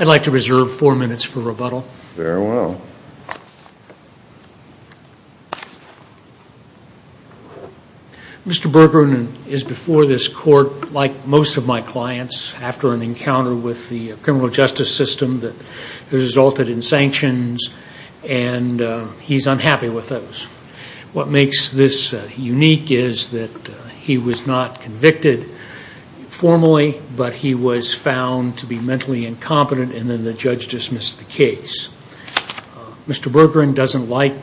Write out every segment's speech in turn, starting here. I'd like to reserve four minutes for rebuttal. Mr. Bergrin is before this court, like most of my clients, after an encounter with the criminal justice system that resulted in sanctions and he's unhappy with those. What makes this unique is that he was not convicted formally, but he was found to be mentally incompetent and then the judge dismissed the case. Mr. Bergrin doesn't like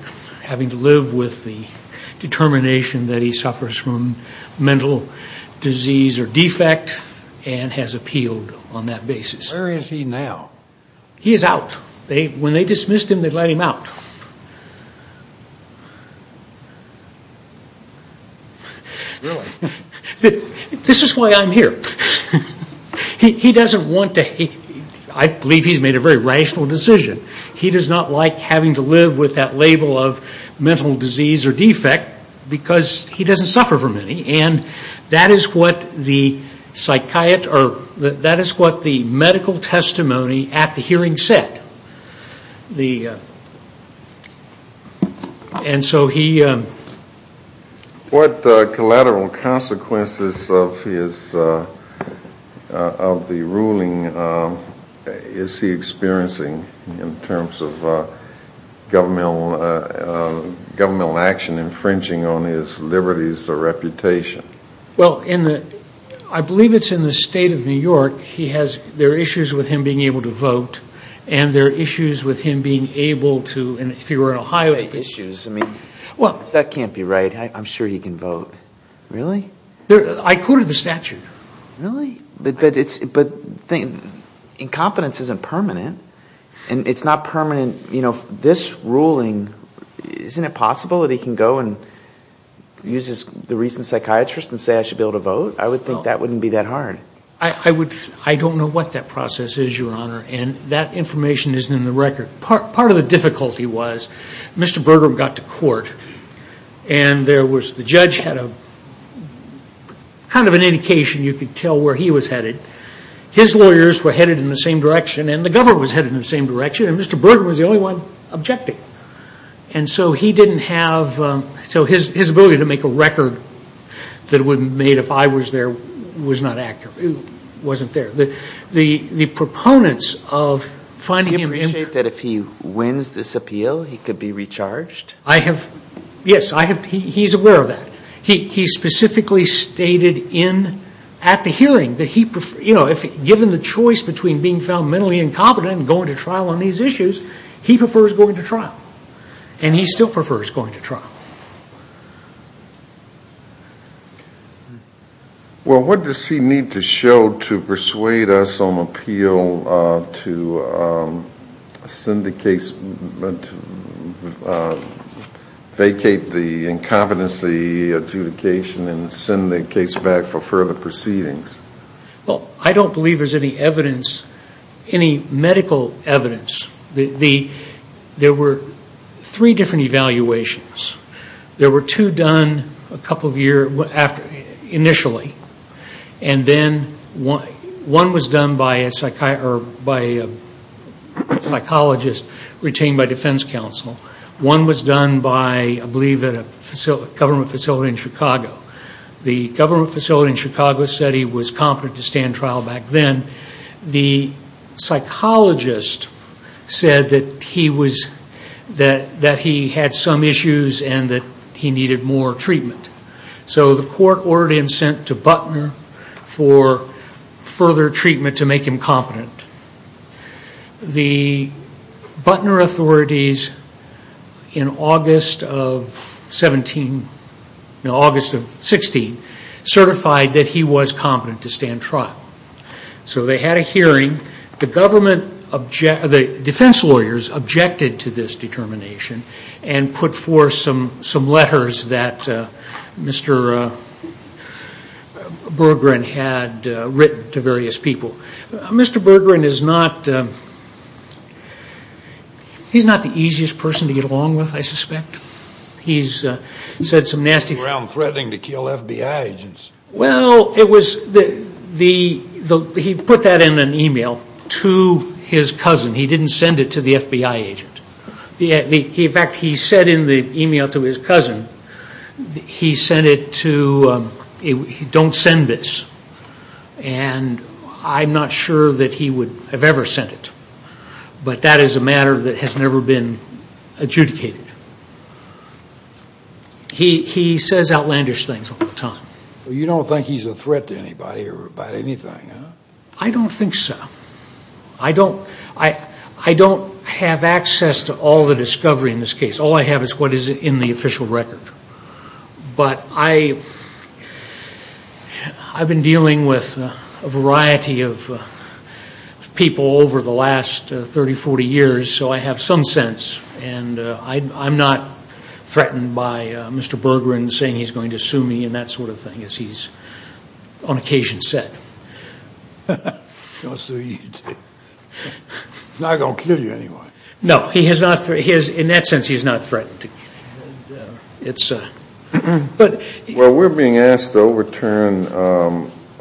having to live with the determination that he suffers from mental disease or defect and has appealed on that now. He is out. When they dismissed him, they let him out. This is why I'm here. He doesn't want to, I believe he's made a very rational decision. He does not like having to live with that label of mental disease or defect because he doesn't suffer from any and that is what the medical testimony at the hearing said. What collateral consequences of the ruling is he experiencing in terms of governmental action infringing on his liberties or reputation? I believe it's in the state of New York. There are issues with him being able to vote and there are issues with him being able to, if he were in Ohio. That can't be right. I'm sure he can vote. Really? I quoted the statute. Really? But incompetence isn't permanent. This ruling, isn't it possible that he can go and use the reason psychiatrist and say I should be able to vote? I would think that wouldn't be that hard. I don't know what that process is, your honor. That information isn't in the record. Part of the difficulty was Mr. Bergrin got to court and the judge had kind of an indication you could tell where he was headed. His lawyers were headed in the same direction and the government was headed in the same direction and Mr. Bergrin was the only one objecting. So his ability to make a record that would have been made if I was there was not accurate. It wasn't there. The proponents of finding him... Do you appreciate that if he wins this appeal he could be recharged? Yes, he is aware of that. He specifically stated at the hearing that given the choice between being found mentally incompetent and going to trial on these issues, he prefers going to trial. And he still prefers going to trial. Well, what does he need to show to persuade us on appeal to vacate the incompetency adjudication and send the case back for further proceedings? I don't believe there is any medical evidence. There were three different evaluations. There were two done initially. One was done by a psychologist retained by defense counsel. One was done by a government facility in Chicago. The government facility in Chicago said he was competent to stand trial back then. The psychologist said that he had some issues and that he needed more treatment. So the court ordered him sent to Butner for further treatment to make him competent. The Butner authorities in August of 16 certified that he was competent to stand trial. So they had a hearing. The defense lawyers objected to this determination and put forth some letters that Mr. Berggren had written to various people. Mr. Berggren is not the easiest person to get along with, I suspect. He has said some nasty things. Threatening to kill FBI agents? Well, he put that in an email to his cousin. He didn't send it to the FBI agent. In fact, he said in the email to his cousin, don't send this. I'm not sure that he would have ever sent it. But that is a matter that has never been adjudicated. He says outlandish things all the time. You don't think he's a threat to anybody or about anything? I don't think so. I don't have access to all the discovery in this case. All I have is what is in the official record. But I've been dealing with a variety of people over the last 30, 40 years, so I have some sense. And I'm not threatened by Mr. Berggren saying he's going to sue me and that sort of thing, as he's on occasion said. So he's not going to kill you anyway? No. In that sense, he's not threatening to kill me. Well, we're being asked to overturn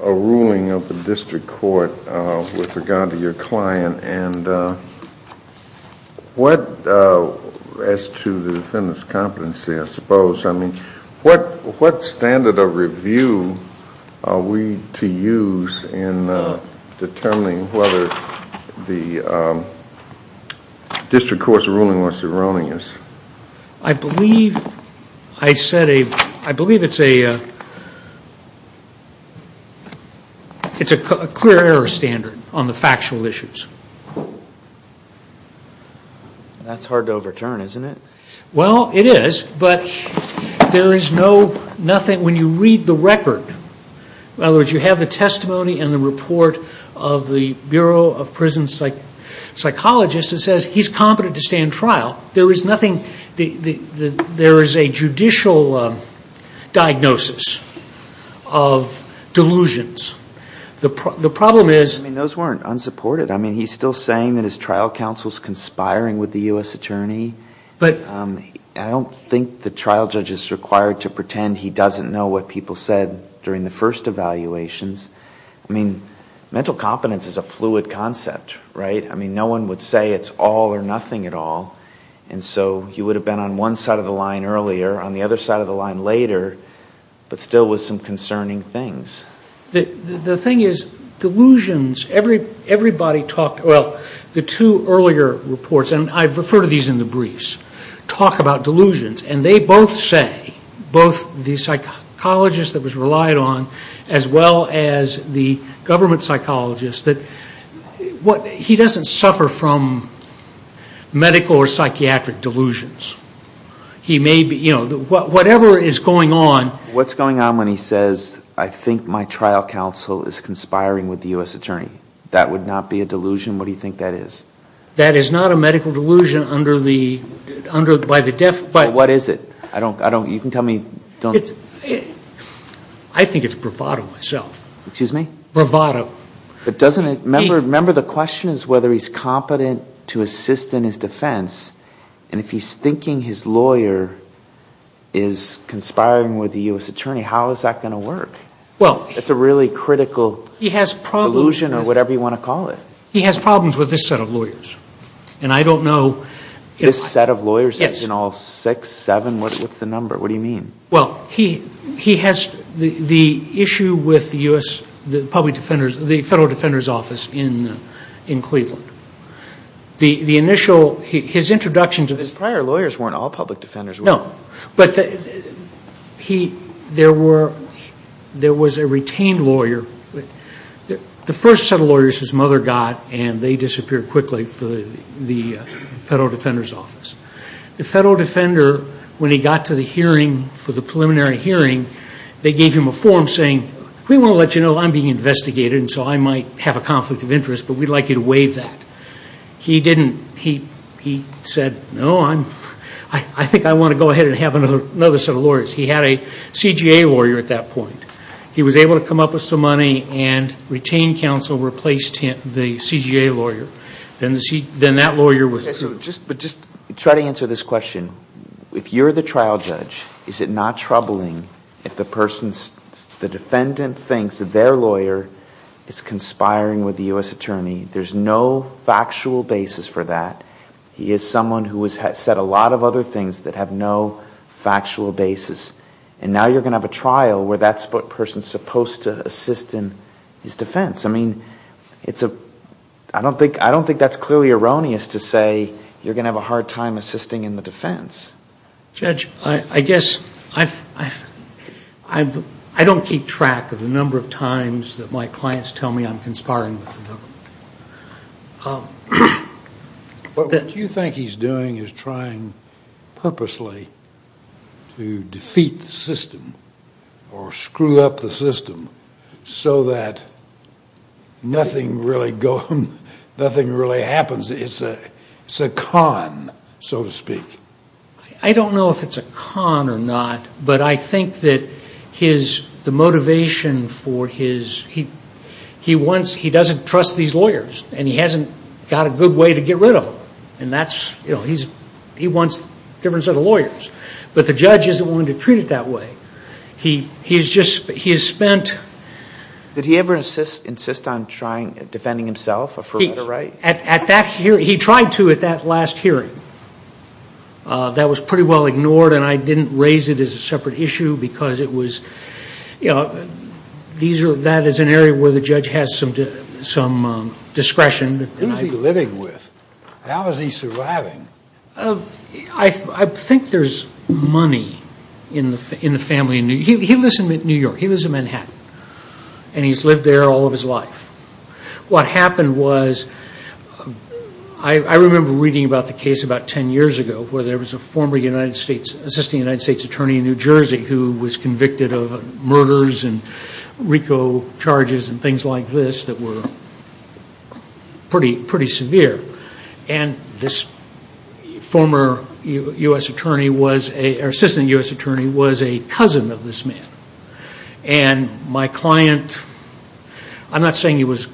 a ruling of the district court with regard to your client. And as to the defendant's competency, I suppose, what standard of review are we to use in determining whether the district court's ruling was erroneous? I believe it's a clear error standard on the factual issues. That's hard to overturn, isn't it? Well, it is. But when you read the record, in other words, you have the testimony and the report of the Bureau of Prison Psychologists that says he's competent to stay in trial. There is a judicial diagnosis of delusions. I mean, those weren't unsupported. I mean, he's still saying that his trial counsel's I don't think the trial judge is required to pretend he doesn't know what people said during the first evaluations. I mean, mental competence is a fluid concept, right? I mean, no one would say it's all or nothing at all. And so he would have been on one side of the line earlier, on the other side of the line later, but still with some concerning things. The thing is, delusions, everybody talked, well, the two earlier reports, and I've referred to these in the briefs, talk about delusions, and they both say, both the psychologist that was relied on, as well as the government psychologist, that he doesn't suffer from medical or psychiatric delusions. He may be, you know, whatever is going on What's going on when he says, I think my trial counsel is conspiring with the U.S. attorney? That would not be a delusion? What do you think that is? That is not a medical delusion under the, by the What is it? I don't, you can tell me, don't I think it's bravado myself. Excuse me? Bravado. But doesn't it, remember the question is whether he's competent to assist in his defense, and if he's thinking his lawyer is conspiring with the U.S. attorney, how is that going to work? It's a really critical delusion or whatever you want to call it. He has problems with this set of lawyers, and I don't know This set of lawyers? Yes. In all six, seven, what's the number? What do you mean? Well, he has the issue with the U.S., the public defenders, the Federal Defender's Office in Cleveland. The initial, his introduction to His prior lawyers weren't all public defenders No, but he, there were, there was a retained lawyer The first set of lawyers his mother got, and they disappeared quickly for the Federal Defender's Office. The Federal Defender, when he got to the hearing for the preliminary hearing, they gave him a form saying, we won't let you know I'm being investigated, and so I might have a conflict of interest, but we'd like you to waive that. He didn't, he said, no, I think I want to go ahead and have another set of lawyers. He had a CGA lawyer at that point. He was able to come up with some money and retained counsel, replaced him, the CGA lawyer. Then that lawyer was But just try to answer this question. If you're the trial judge, is it not troubling if the person's, the defendant thinks that their lawyer is conspiring with the U.S. Attorney? There's no factual basis for that. He is someone who has said a lot of other things that have no factual basis. And now you're going to have a trial where that person is supposed to assist in his defense. I mean, it's a, I don't think that's clearly erroneous to say you're going to have a hard time assisting in the defense. Judge, I guess, I don't keep track of the number of times that my clients tell me I'm conspiring with the government. What do you think he's doing? He's trying purposely to defeat the system or screw up the system so that nothing really happens. It's a con, so to speak. I don't know if it's a con or not. But I think that his, the motivation for his, he wants, he doesn't trust these lawyers. And he hasn't got a good way to get rid of them. And that's, you know, he wants a different set of lawyers. But the judge isn't willing to treat it that way. He's just, he has spent Did he ever insist on trying, defending himself for a right? At that hearing, he tried to at that last hearing. That was pretty well ignored. And I didn't raise it as a separate issue because it was, you know, that is an area where the judge has some discretion. Who is he living with? How is he surviving? I think there's money in the family. He lives in New York. He lives in Manhattan. And he's lived there all of his life. What happened was, I remember reading about the case about ten years ago where there was a former United States, assistant United States attorney in New Jersey who was convicted of murders and RICO charges and things like this that were pretty severe. And this former U.S. attorney was, or assistant U.S. attorney was a cousin of this man. And my client, I'm not saying he was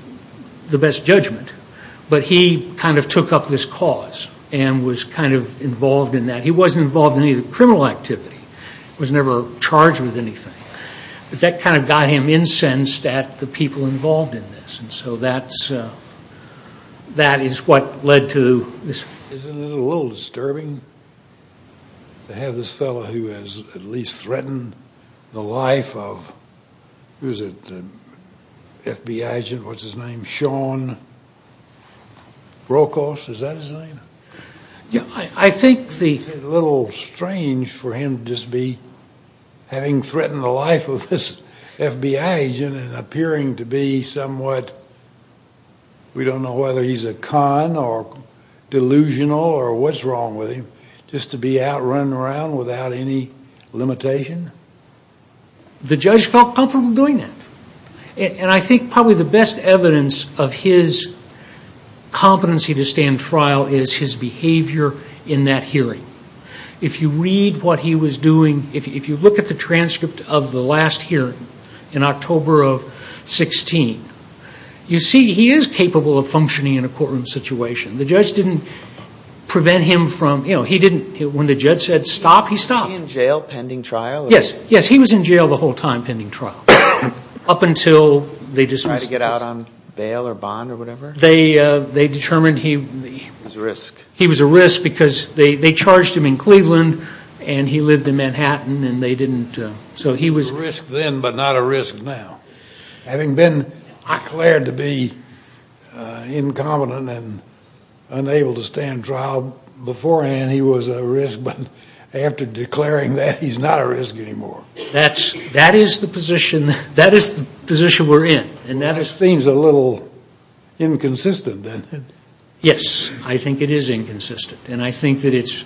the best judgment, but he kind of took up this cause and was kind of involved in that. He wasn't involved in any of the criminal activity. He was never charged with anything. But that kind of got him incensed at the people involved in this. And so that is what led to this. Isn't it a little disturbing to have this fellow who has at least threatened the life of, who is it, FBI agent, what's his name, Sean Rokos, is that his name? Yeah, I think the... Isn't it a little strange for him to just be having threatened the life of this FBI agent and appearing to be somewhat, we don't know whether he's a con or delusional or what's wrong with him, just to be out running around without any limitation? The judge felt comfortable doing that. And I think probably the best evidence of his competency to stand trial is his behavior in that hearing. If you read what he was doing, if you look at the transcript of the last hearing in October of 16, you see he is capable of functioning in a courtroom situation. The judge didn't prevent him from, when the judge said stop, he stopped. Was he in jail pending trial? Yes, he was in jail the whole time pending trial. Up until they dismissed... Tried to get out on bail or bond or whatever? They determined he... He was a risk. He was a risk because they charged him in Cleveland and he lived in Manhattan and they didn't, so he was... A risk then but not a risk now. Having been declared to be incompetent and unable to stand trial beforehand, he was a risk but after declaring that he's not a risk anymore. That is the position we're in. And that seems a little inconsistent, doesn't it? Yes, I think it is inconsistent. And I think that it's...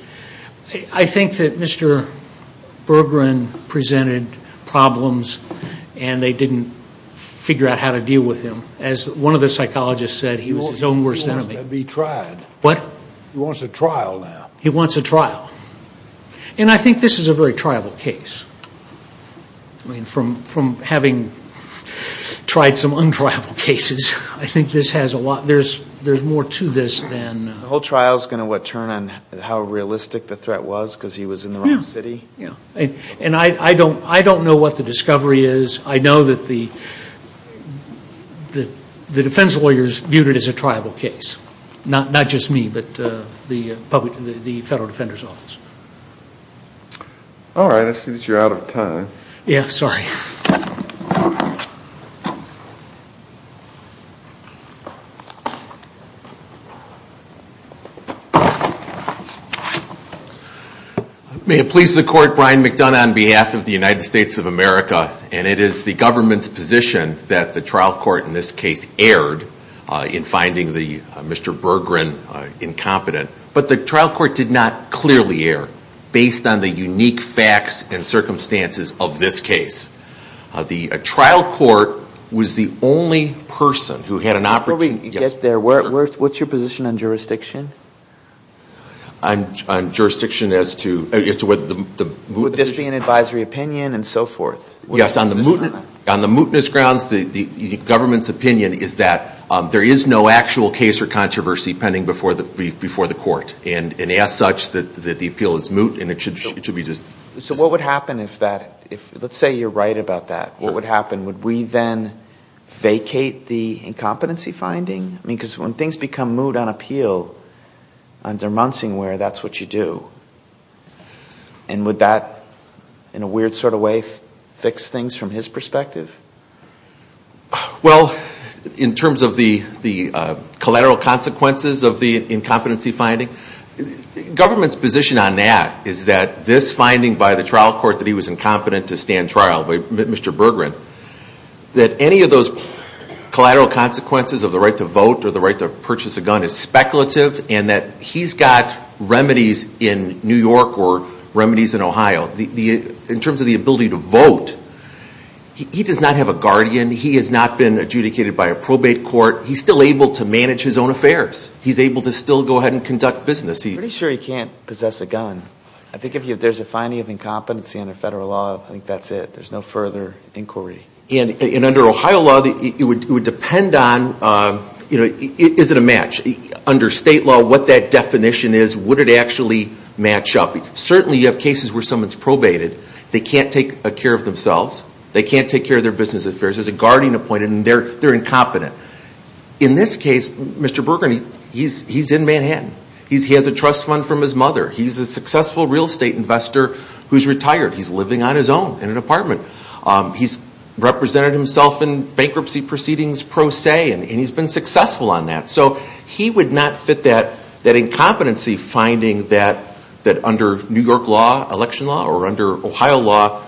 I think that Mr. Berggren presented problems and they didn't figure out how to deal with him. As one of the psychologists said, he was his own worst enemy. He wants to be tried. What? He wants a trial now. He wants a trial. And I think this is a very triable case. I mean, from having tried some untriable cases, I think this has a lot... There's more to this than... The whole trial is going to turn on how realistic the threat was because he was in the wrong city? Yes. And I don't know what the discovery is. I know that the defense lawyers viewed it as a triable case, not just me but the Federal Defender's Office. All right. I see that you're out of time. Yes, sorry. Thank you. May it please the Court, Brian McDonough on behalf of the United States of America, and it is the government's position that the trial court in this case erred in finding Mr. Berggren incompetent. But the trial court did not clearly err based on the unique facts and circumstances of this case. The trial court was the only person who had an opportunity... Before we get there, what's your position on jurisdiction? On jurisdiction as to whether the... Would this be an advisory opinion and so forth? Yes, on the mootness grounds, the government's opinion is that there is no actual case or controversy pending before the court, and as such, that the appeal is moot and it should be just... So what would happen if that... Let's say you're right about that. What would happen? Would we then vacate the incompetency finding? Because when things become moot on appeal, under Munsingware, that's what you do. And would that, in a weird sort of way, fix things from his perspective? Well, in terms of the collateral consequences of the incompetency finding, the government's position on that is that this finding by the trial court that he was incompetent to stand trial, by Mr. Berggren, that any of those collateral consequences of the right to vote or the right to purchase a gun is speculative and that he's got remedies in New York or remedies in Ohio. In terms of the ability to vote, he does not have a guardian. He has not been adjudicated by a probate court. He's still able to manage his own affairs. He's able to still go ahead and conduct business. I'm pretty sure he can't possess a gun. I think if there's a finding of incompetency under federal law, I think that's it. There's no further inquiry. And under Ohio law, it would depend on, is it a match? Under state law, what that definition is, would it actually match up? Certainly you have cases where someone's probated. They can't take care of themselves. They can't take care of their business affairs. There's a guardian appointed and they're incompetent. In this case, Mr. Berger, he's in Manhattan. He has a trust fund from his mother. He's a successful real estate investor who's retired. He's living on his own in an apartment. He's represented himself in bankruptcy proceedings pro se, and he's been successful on that. So he would not fit that incompetency finding that under New York law, election law, or under Ohio law,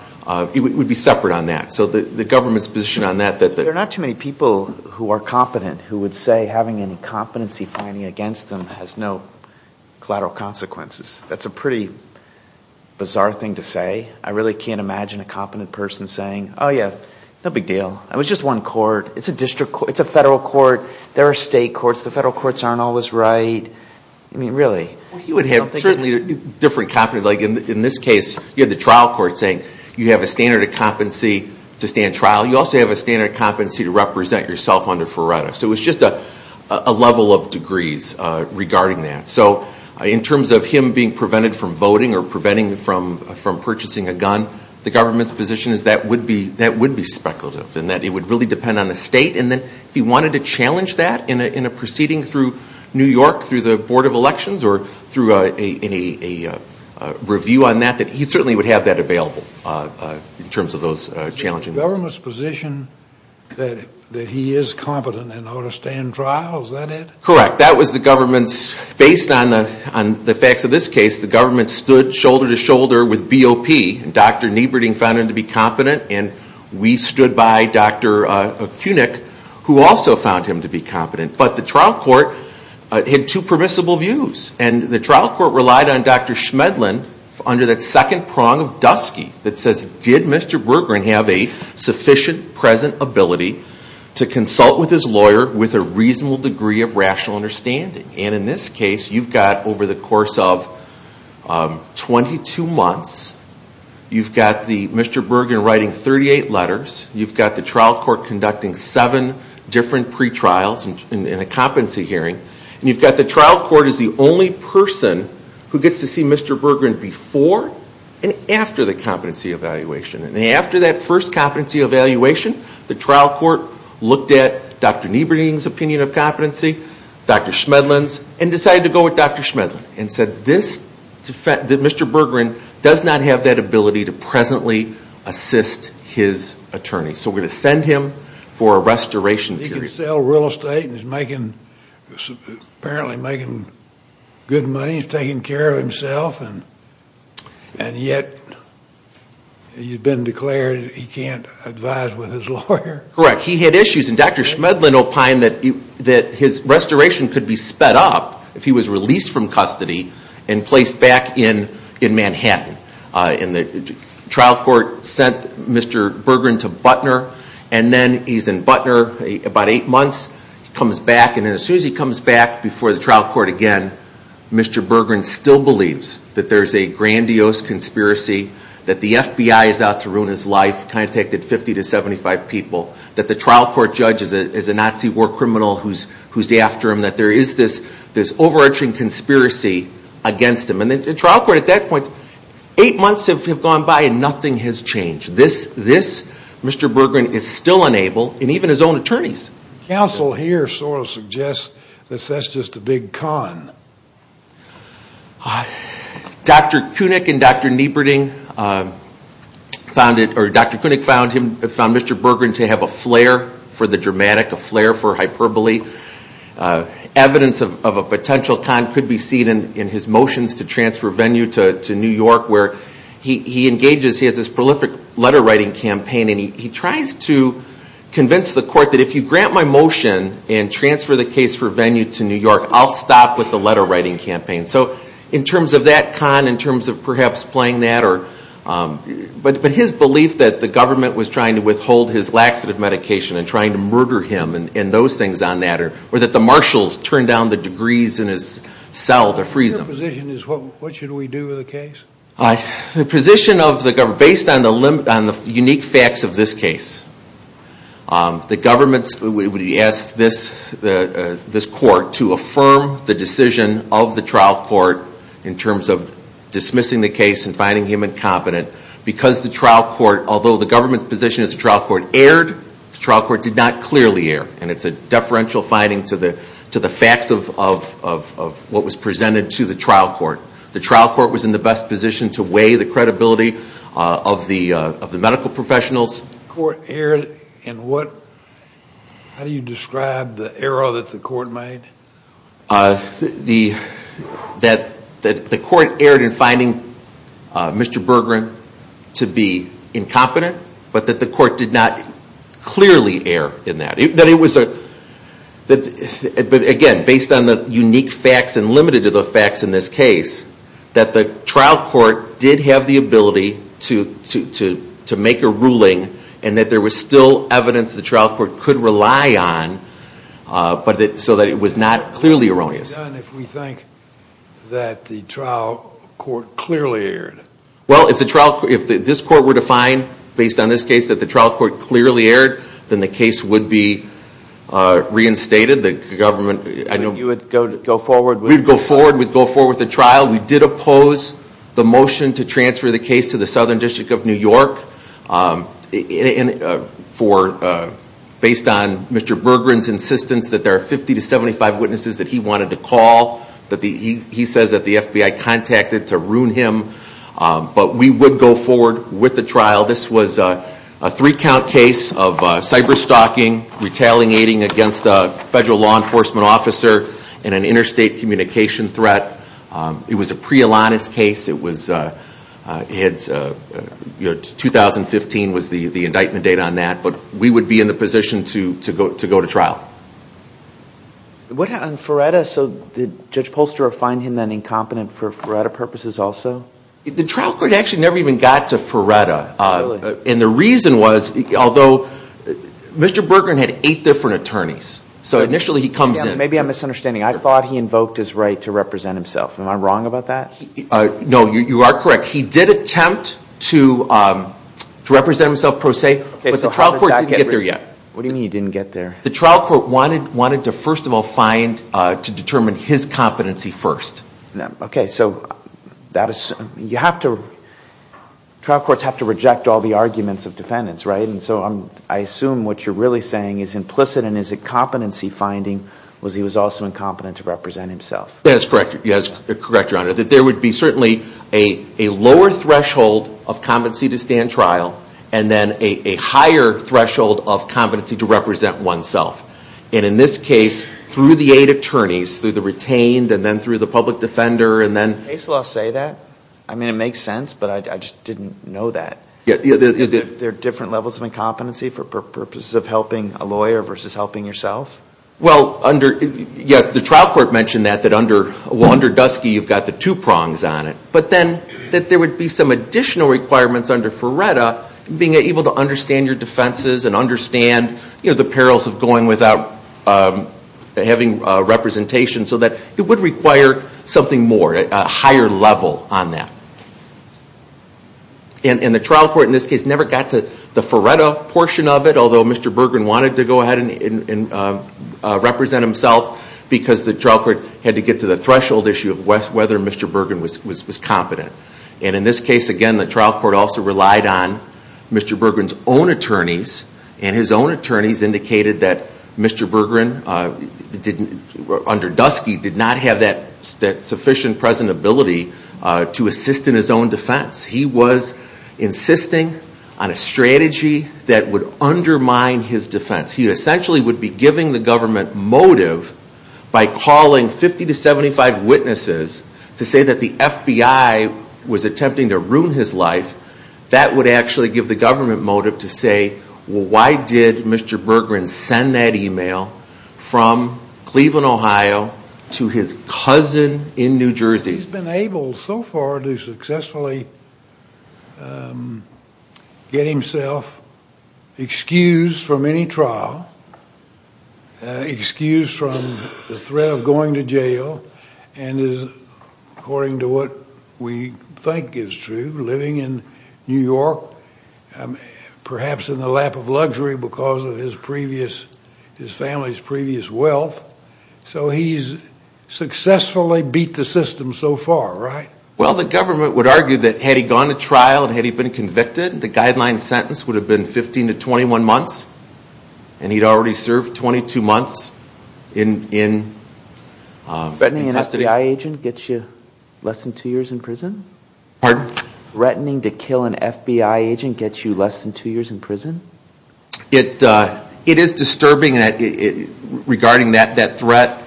it would be separate on that. So the government's position on that. There are not too many people who are competent who would say having an incompetency finding against them has no collateral consequences. That's a pretty bizarre thing to say. I really can't imagine a competent person saying, oh, yeah, no big deal. It was just one court. It's a district court. It's a federal court. There are state courts. The federal courts aren't always right. I mean, really. You would have certainly different competence. Like in this case, you had the trial court saying you have a standard of competency to stand trial. You also have a standard of competency to represent yourself under FRERETA. So it's just a level of degrees regarding that. So in terms of him being prevented from voting or preventing from purchasing a gun, the government's position is that would be speculative and that it would really depend on the state. And then if he wanted to challenge that in a proceeding through New York, through the Board of Elections, or through a review on that, that he certainly would have that available in terms of those challenges. So the government's position that he is competent and ought to stand trial, is that it? Correct. That was the government's. Based on the facts of this case, the government stood shoulder to shoulder with BOP, and Dr. Nieberding found him to be competent, and we stood by Dr. Koenig, who also found him to be competent. But the trial court had two permissible views, and the trial court relied on Dr. Schmedlin under that second prong of Dusky that says, did Mr. Berggren have a sufficient present ability to consult with his lawyer with a reasonable degree of rational understanding? And in this case, you've got over the course of 22 months, you've got Mr. Berggren writing 38 letters, you've got the trial court conducting seven different pretrials in a competency hearing, and you've got the trial court as the only person who gets to see Mr. Berggren before and after the competency evaluation. And after that first competency evaluation, the trial court looked at Dr. Nieberding's opinion of competency, Dr. Schmedlin's, and decided to go with Dr. Schmedlin and said that Mr. Berggren does not have that ability to presently assist his attorney. So we're going to send him for a restoration period. He can sell real estate and is apparently making good money. He's taking care of himself, and yet he's been declared he can't advise with his lawyer. Correct. He had issues, and Dr. Schmedlin opined that his restoration could be sped up if he was released from custody and placed back in Manhattan. And the trial court sent Mr. Berggren to Butner, and then he's in Butner about eight months. He comes back, and as soon as he comes back before the trial court again, Mr. Berggren still believes that there's a grandiose conspiracy, that the FBI is out to ruin his life, contacted 50 to 75 people, that the trial court judge is a Nazi war criminal who's after him, that there is this overarching conspiracy against him. And the trial court at that point, eight months have gone by and nothing has changed. This Mr. Berggren is still unable, and even his own attorneys. Counsel here sort of suggests that that's just a big con. Dr. Koenig and Dr. Nieberding found Mr. Berggren to have a flare for the dramatic, a flare for hyperbole. Evidence of a potential con could be seen in his motions to transfer Venue to New York where he engages, he has this prolific letter writing campaign, and he tries to convince the court that if you grant my motion and transfer the case for Venue to New York, I'll stop with the letter writing campaign. So in terms of that con, in terms of perhaps playing that, but his belief that the government was trying to withhold his laxative medication and trying to murder him and those things on that, or that the marshals turned down the degrees in his cell to freeze him. Your position is what should we do with the case? The position of the government, based on the unique facts of this case, the government would ask this court to affirm the decision of the trial court in terms of dismissing the case and finding him incompetent because the trial court, although the government's position is the trial court erred, the trial court did not clearly err, and it's a deferential finding to the facts of what was presented to the trial court. The trial court was in the best position to weigh the credibility of the medical professionals. The court erred in what? How do you describe the error that the court made? That the court erred in finding Mr. Bergeron to be incompetent, but that the court did not clearly err in that. But again, based on the unique facts and limited to the facts in this case, that the trial court did have the ability to make a ruling and that there was still evidence the trial court could rely on, so that it was not clearly erroneous. What would be done if we think that the trial court clearly erred? Well, if this court were to find, based on this case, that the trial court clearly erred, then the case would be reinstated. You would go forward with it? We'd go forward with the trial. We did oppose the motion to transfer the case to the Southern District of New York based on Mr. Bergeron's insistence that there are 50 to 75 witnesses that he wanted to call. He says that the FBI contacted to ruin him. But we would go forward with the trial. This was a three-count case of cyber-stalking, retaliating against a federal law enforcement officer, and an interstate communication threat. It was a pre-Alanis case. 2015 was the indictment date on that. But we would be in the position to go to trial. What happened with Ferretta? Did Judge Polster find him incompetent for Ferretta purposes also? The trial court actually never even got to Ferretta. And the reason was, although Mr. Bergeron had eight different attorneys, so initially he comes in. Maybe I'm misunderstanding. I thought he invoked his right to represent himself. Am I wrong about that? No, you are correct. He did attempt to represent himself pro se, but the trial court didn't get there yet. What do you mean he didn't get there? The trial court wanted to first of all find, to determine his competency first. Okay, so trial courts have to reject all the arguments of defendants, right? And so I assume what you're really saying is implicit and his incompetency finding was he was also incompetent to represent himself. Yes, correct, Your Honor. There would be certainly a lower threshold of competency to stand trial and then a higher threshold of competency to represent oneself. And in this case, through the eight attorneys, through the retained, and then through the public defender, and then. Does the case law say that? I mean, it makes sense, but I just didn't know that. There are different levels of incompetency for purposes of helping a lawyer versus helping yourself? Well, the trial court mentioned that, that under Dusky you've got the two prongs on it. But then that there would be some additional requirements under Ferretta, being able to understand your defenses and understand the perils of going without having representation so that it would require something more, a higher level on that. And the trial court in this case never got to the Ferretta portion of it, although Mr. Berggren wanted to go ahead and represent himself because the trial court had to get to the threshold issue of whether Mr. Berggren was competent. And in this case, again, the trial court also relied on Mr. Berggren's own attorneys, and his own attorneys indicated that Mr. Berggren, under Dusky, did not have that sufficient present ability to assist in his own defense. He was insisting on a strategy that would undermine his defense. He essentially would be giving the government motive by calling 50 to 75 witnesses to say that the FBI was attempting to ruin his life. That would actually give the government motive to say, well, why did Mr. Berggren send that email from Cleveland, Ohio, to his cousin in New Jersey? He's been able so far to successfully get himself excused from any trial, excused from the threat of going to jail, and is, according to what we think is true, living in New York, perhaps in the lap of luxury because of his family's previous wealth. So he's successfully beat the system so far, right? Well, the government would argue that had he gone to trial and had he been convicted, the guideline sentence would have been 15 to 21 months, and he'd already served 22 months in custody. Threatening an FBI agent gets you less than two years in prison? Pardon? Threatening to kill an FBI agent gets you less than two years in prison? It is disturbing regarding that threat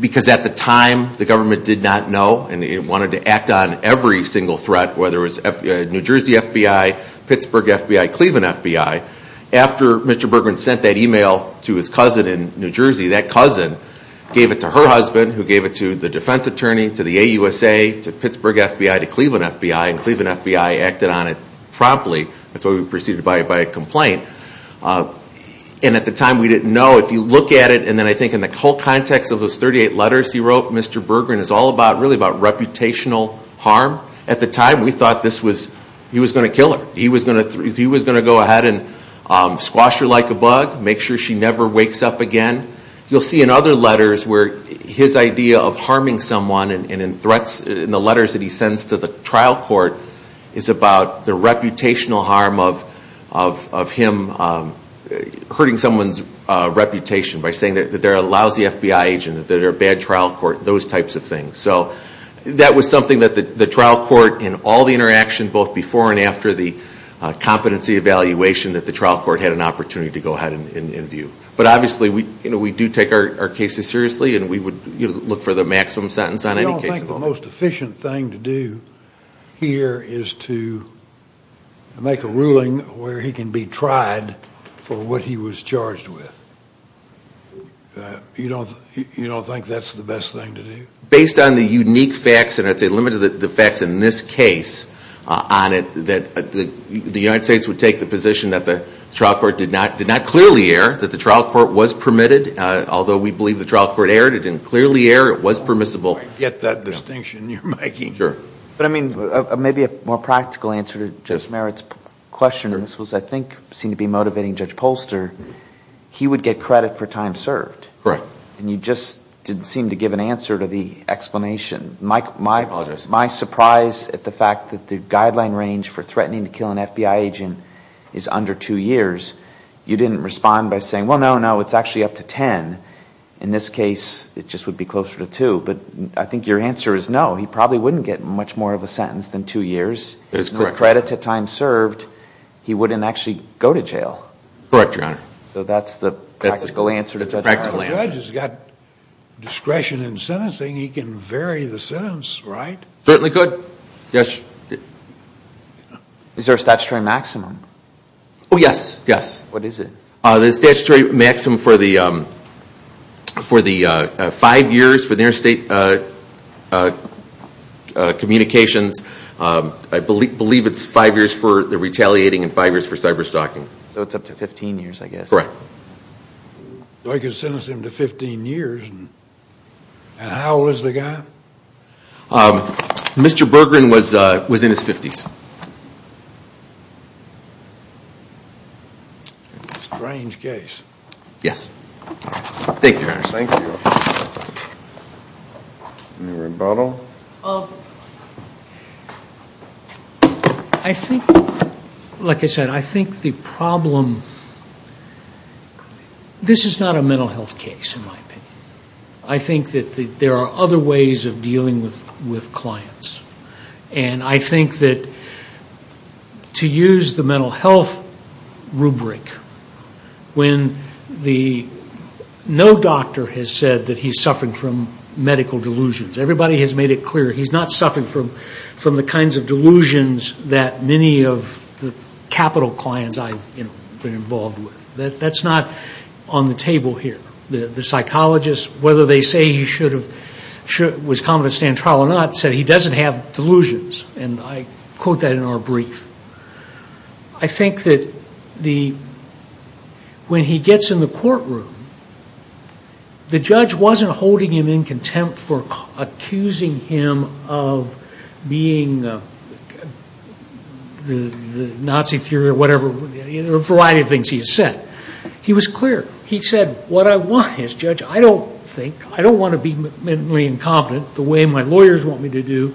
because at the time the government did not know, and it wanted to act on every single threat, whether it was New Jersey FBI, Pittsburgh FBI, Cleveland FBI. After Mr. Berggren sent that email to his cousin in New Jersey, that cousin gave it to her husband, who gave it to the defense attorney, to the AUSA, to Pittsburgh FBI, to Cleveland FBI, and Cleveland FBI acted on it promptly. That's why we proceeded by a complaint. And at the time we didn't know. If you look at it, and then I think in the whole context of those 38 letters he wrote, what Mr. Berggren is all about is really about reputational harm. At the time we thought he was going to kill her. He was going to go ahead and squash her like a bug, make sure she never wakes up again. You'll see in other letters where his idea of harming someone, and in the letters that he sends to the trial court, is about the reputational harm of him hurting someone's reputation by saying that they're a lousy FBI agent, that they're a bad trial court, those types of things. So that was something that the trial court, in all the interaction, both before and after the competency evaluation, that the trial court had an opportunity to go ahead and view. But obviously we do take our cases seriously, and we would look for the maximum sentence on any case. I don't think the most efficient thing to do here is to make a ruling where he can be tried for what he was charged with. You don't think that's the best thing to do? Based on the unique facts, and I'd say limited to the facts in this case on it, that the United States would take the position that the trial court did not clearly err, that the trial court was permitted, although we believe the trial court erred, it didn't clearly err, it was permissible. I get that distinction you're making. Maybe a more practical answer to Judge Merritt's question. This was, I think, seemed to be motivating Judge Polster. He would get credit for time served, and you just didn't seem to give an answer to the explanation. My surprise at the fact that the guideline range for threatening to kill an FBI agent is under two years. You didn't respond by saying, well, no, no, it's actually up to ten. In this case, it just would be closer to two. But I think your answer is no. He probably wouldn't get much more of a sentence than two years. If no credit to time served, he wouldn't actually go to jail. Correct, Your Honor. So that's the practical answer to Judge Merritt. If a judge has got discretion in sentencing, he can vary the sentence, right? Certainly could, yes. Is there a statutory maximum? Oh, yes, yes. What is it? The statutory maximum for the five years for interstate communications, I believe it's five years for the retaliating and five years for cyberstalking. So it's up to 15 years, I guess. Correct. So he could sentence him to 15 years, and how old is the guy? Mr. Bergeron was in his 50s. Strange case. Thank you, Your Honor. Thank you. Any rebuttal? I think, like I said, I think the problem, this is not a mental health case, in my opinion. I think that there are other ways of dealing with clients. And I think that to use the mental health rubric, when no doctor has said that he's suffering from medical delusions, everybody has made it clear he's not suffering from the kinds of delusions that many of the capital clients I've been involved with. That's not on the table here. The psychologists, whether they say he was competent to stand trial or not, said he doesn't have delusions. And I quote that in our brief. I think that when he gets in the courtroom, the judge wasn't holding him in contempt for accusing him of being the Nazi theory or whatever, a variety of things he has said. He was clear. He said, what I want as judge, I don't think, I don't want to be mentally incompetent the way my lawyers want me to do.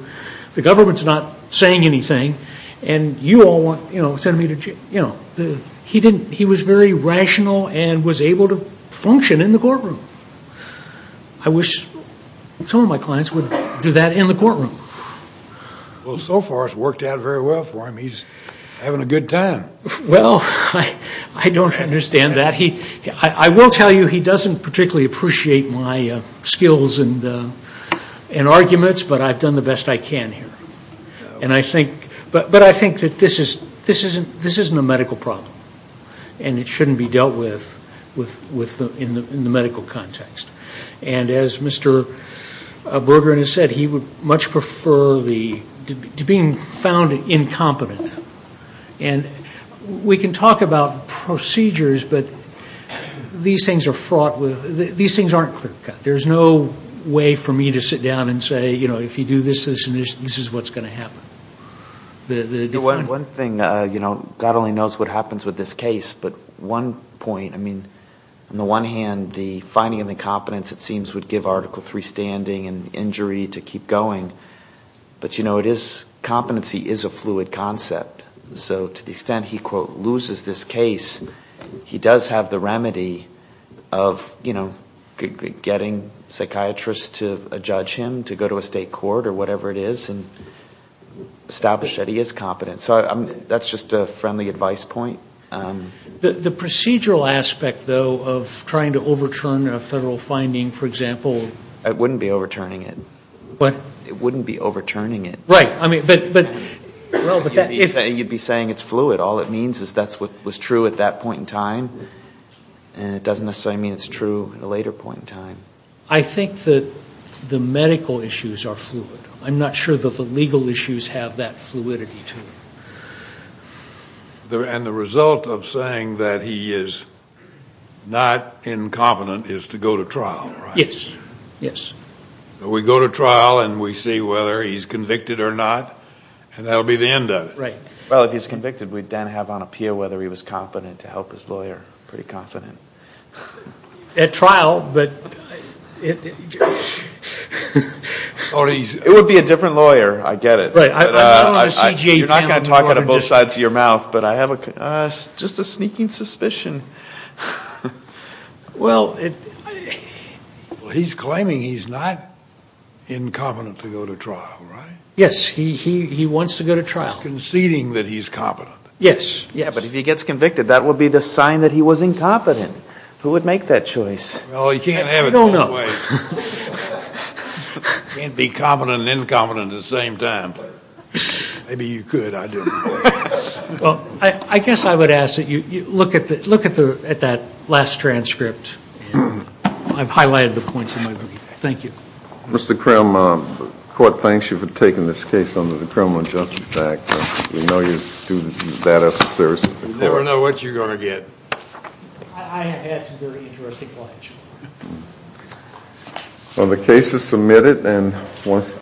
The government's not saying anything. And you all want, you know, send me to jail. He didn't. He was very rational and was able to function in the courtroom. I wish some of my clients would do that in the courtroom. Well, so far it's worked out very well for him. He's having a good time. Well, I don't understand that. I will tell you he doesn't particularly appreciate my skills and arguments, but I've done the best I can here. And I think, but I think that this isn't a medical problem. And it shouldn't be dealt with in the medical context. And as Mr. Bergeron has said, he would much prefer the, to being found incompetent. And we can talk about procedures, but these things are fraught with, these things aren't clear cut. There's no way for me to sit down and say, you know, if you do this, this, and this, this is what's going to happen. One thing, you know, God only knows what happens with this case. But one point, I mean, on the one hand, the finding of incompetence, it seems, would give Article III standing and injury to keep going. But, you know, it is, competency is a fluid concept. So to the extent he, quote, loses this case, he does have the remedy of, you know, getting psychiatrists to judge him, to go to a state court or whatever it is and establish that he is competent. So that's just a friendly advice point. The procedural aspect, though, of trying to overturn a federal finding, for example. It wouldn't be overturning it. What? It wouldn't be overturning it. Right. I mean, but. You'd be saying it's fluid. All it means is that's what was true at that point in time, and it doesn't necessarily mean it's true at a later point in time. I think that the medical issues are fluid. I'm not sure that the legal issues have that fluidity to them. And the result of saying that he is not incompetent is to go to trial, right? Yes. Yes. We go to trial and we see whether he's convicted or not, and that will be the end of it. Right. Well, if he's convicted, we'd then have on appeal whether he was competent to help his lawyer. Pretty confident. At trial, but. It would be a different lawyer. I get it. Right. You're not going to talk out of both sides of your mouth, but I have just a sneaking suspicion. Well, he's claiming he's not incompetent to go to trial, right? Yes. He wants to go to trial. He's conceding that he's competent. Yes. Yes. But if he gets convicted, that would be the sign that he was incompetent. Who would make that choice? Well, you can't have it that way. No, no. You can't be competent and incompetent at the same time. Maybe you could. I don't know. Well, I guess I would ask that you look at that last transcript. I've highlighted the points in my book. Thank you. Mr. Krim, the court thanks you for taking this case under the Criminal Justice Act. We know you do bad assessors. You never know what you're going to get. I had some very interesting clients. Well, the case is submitted.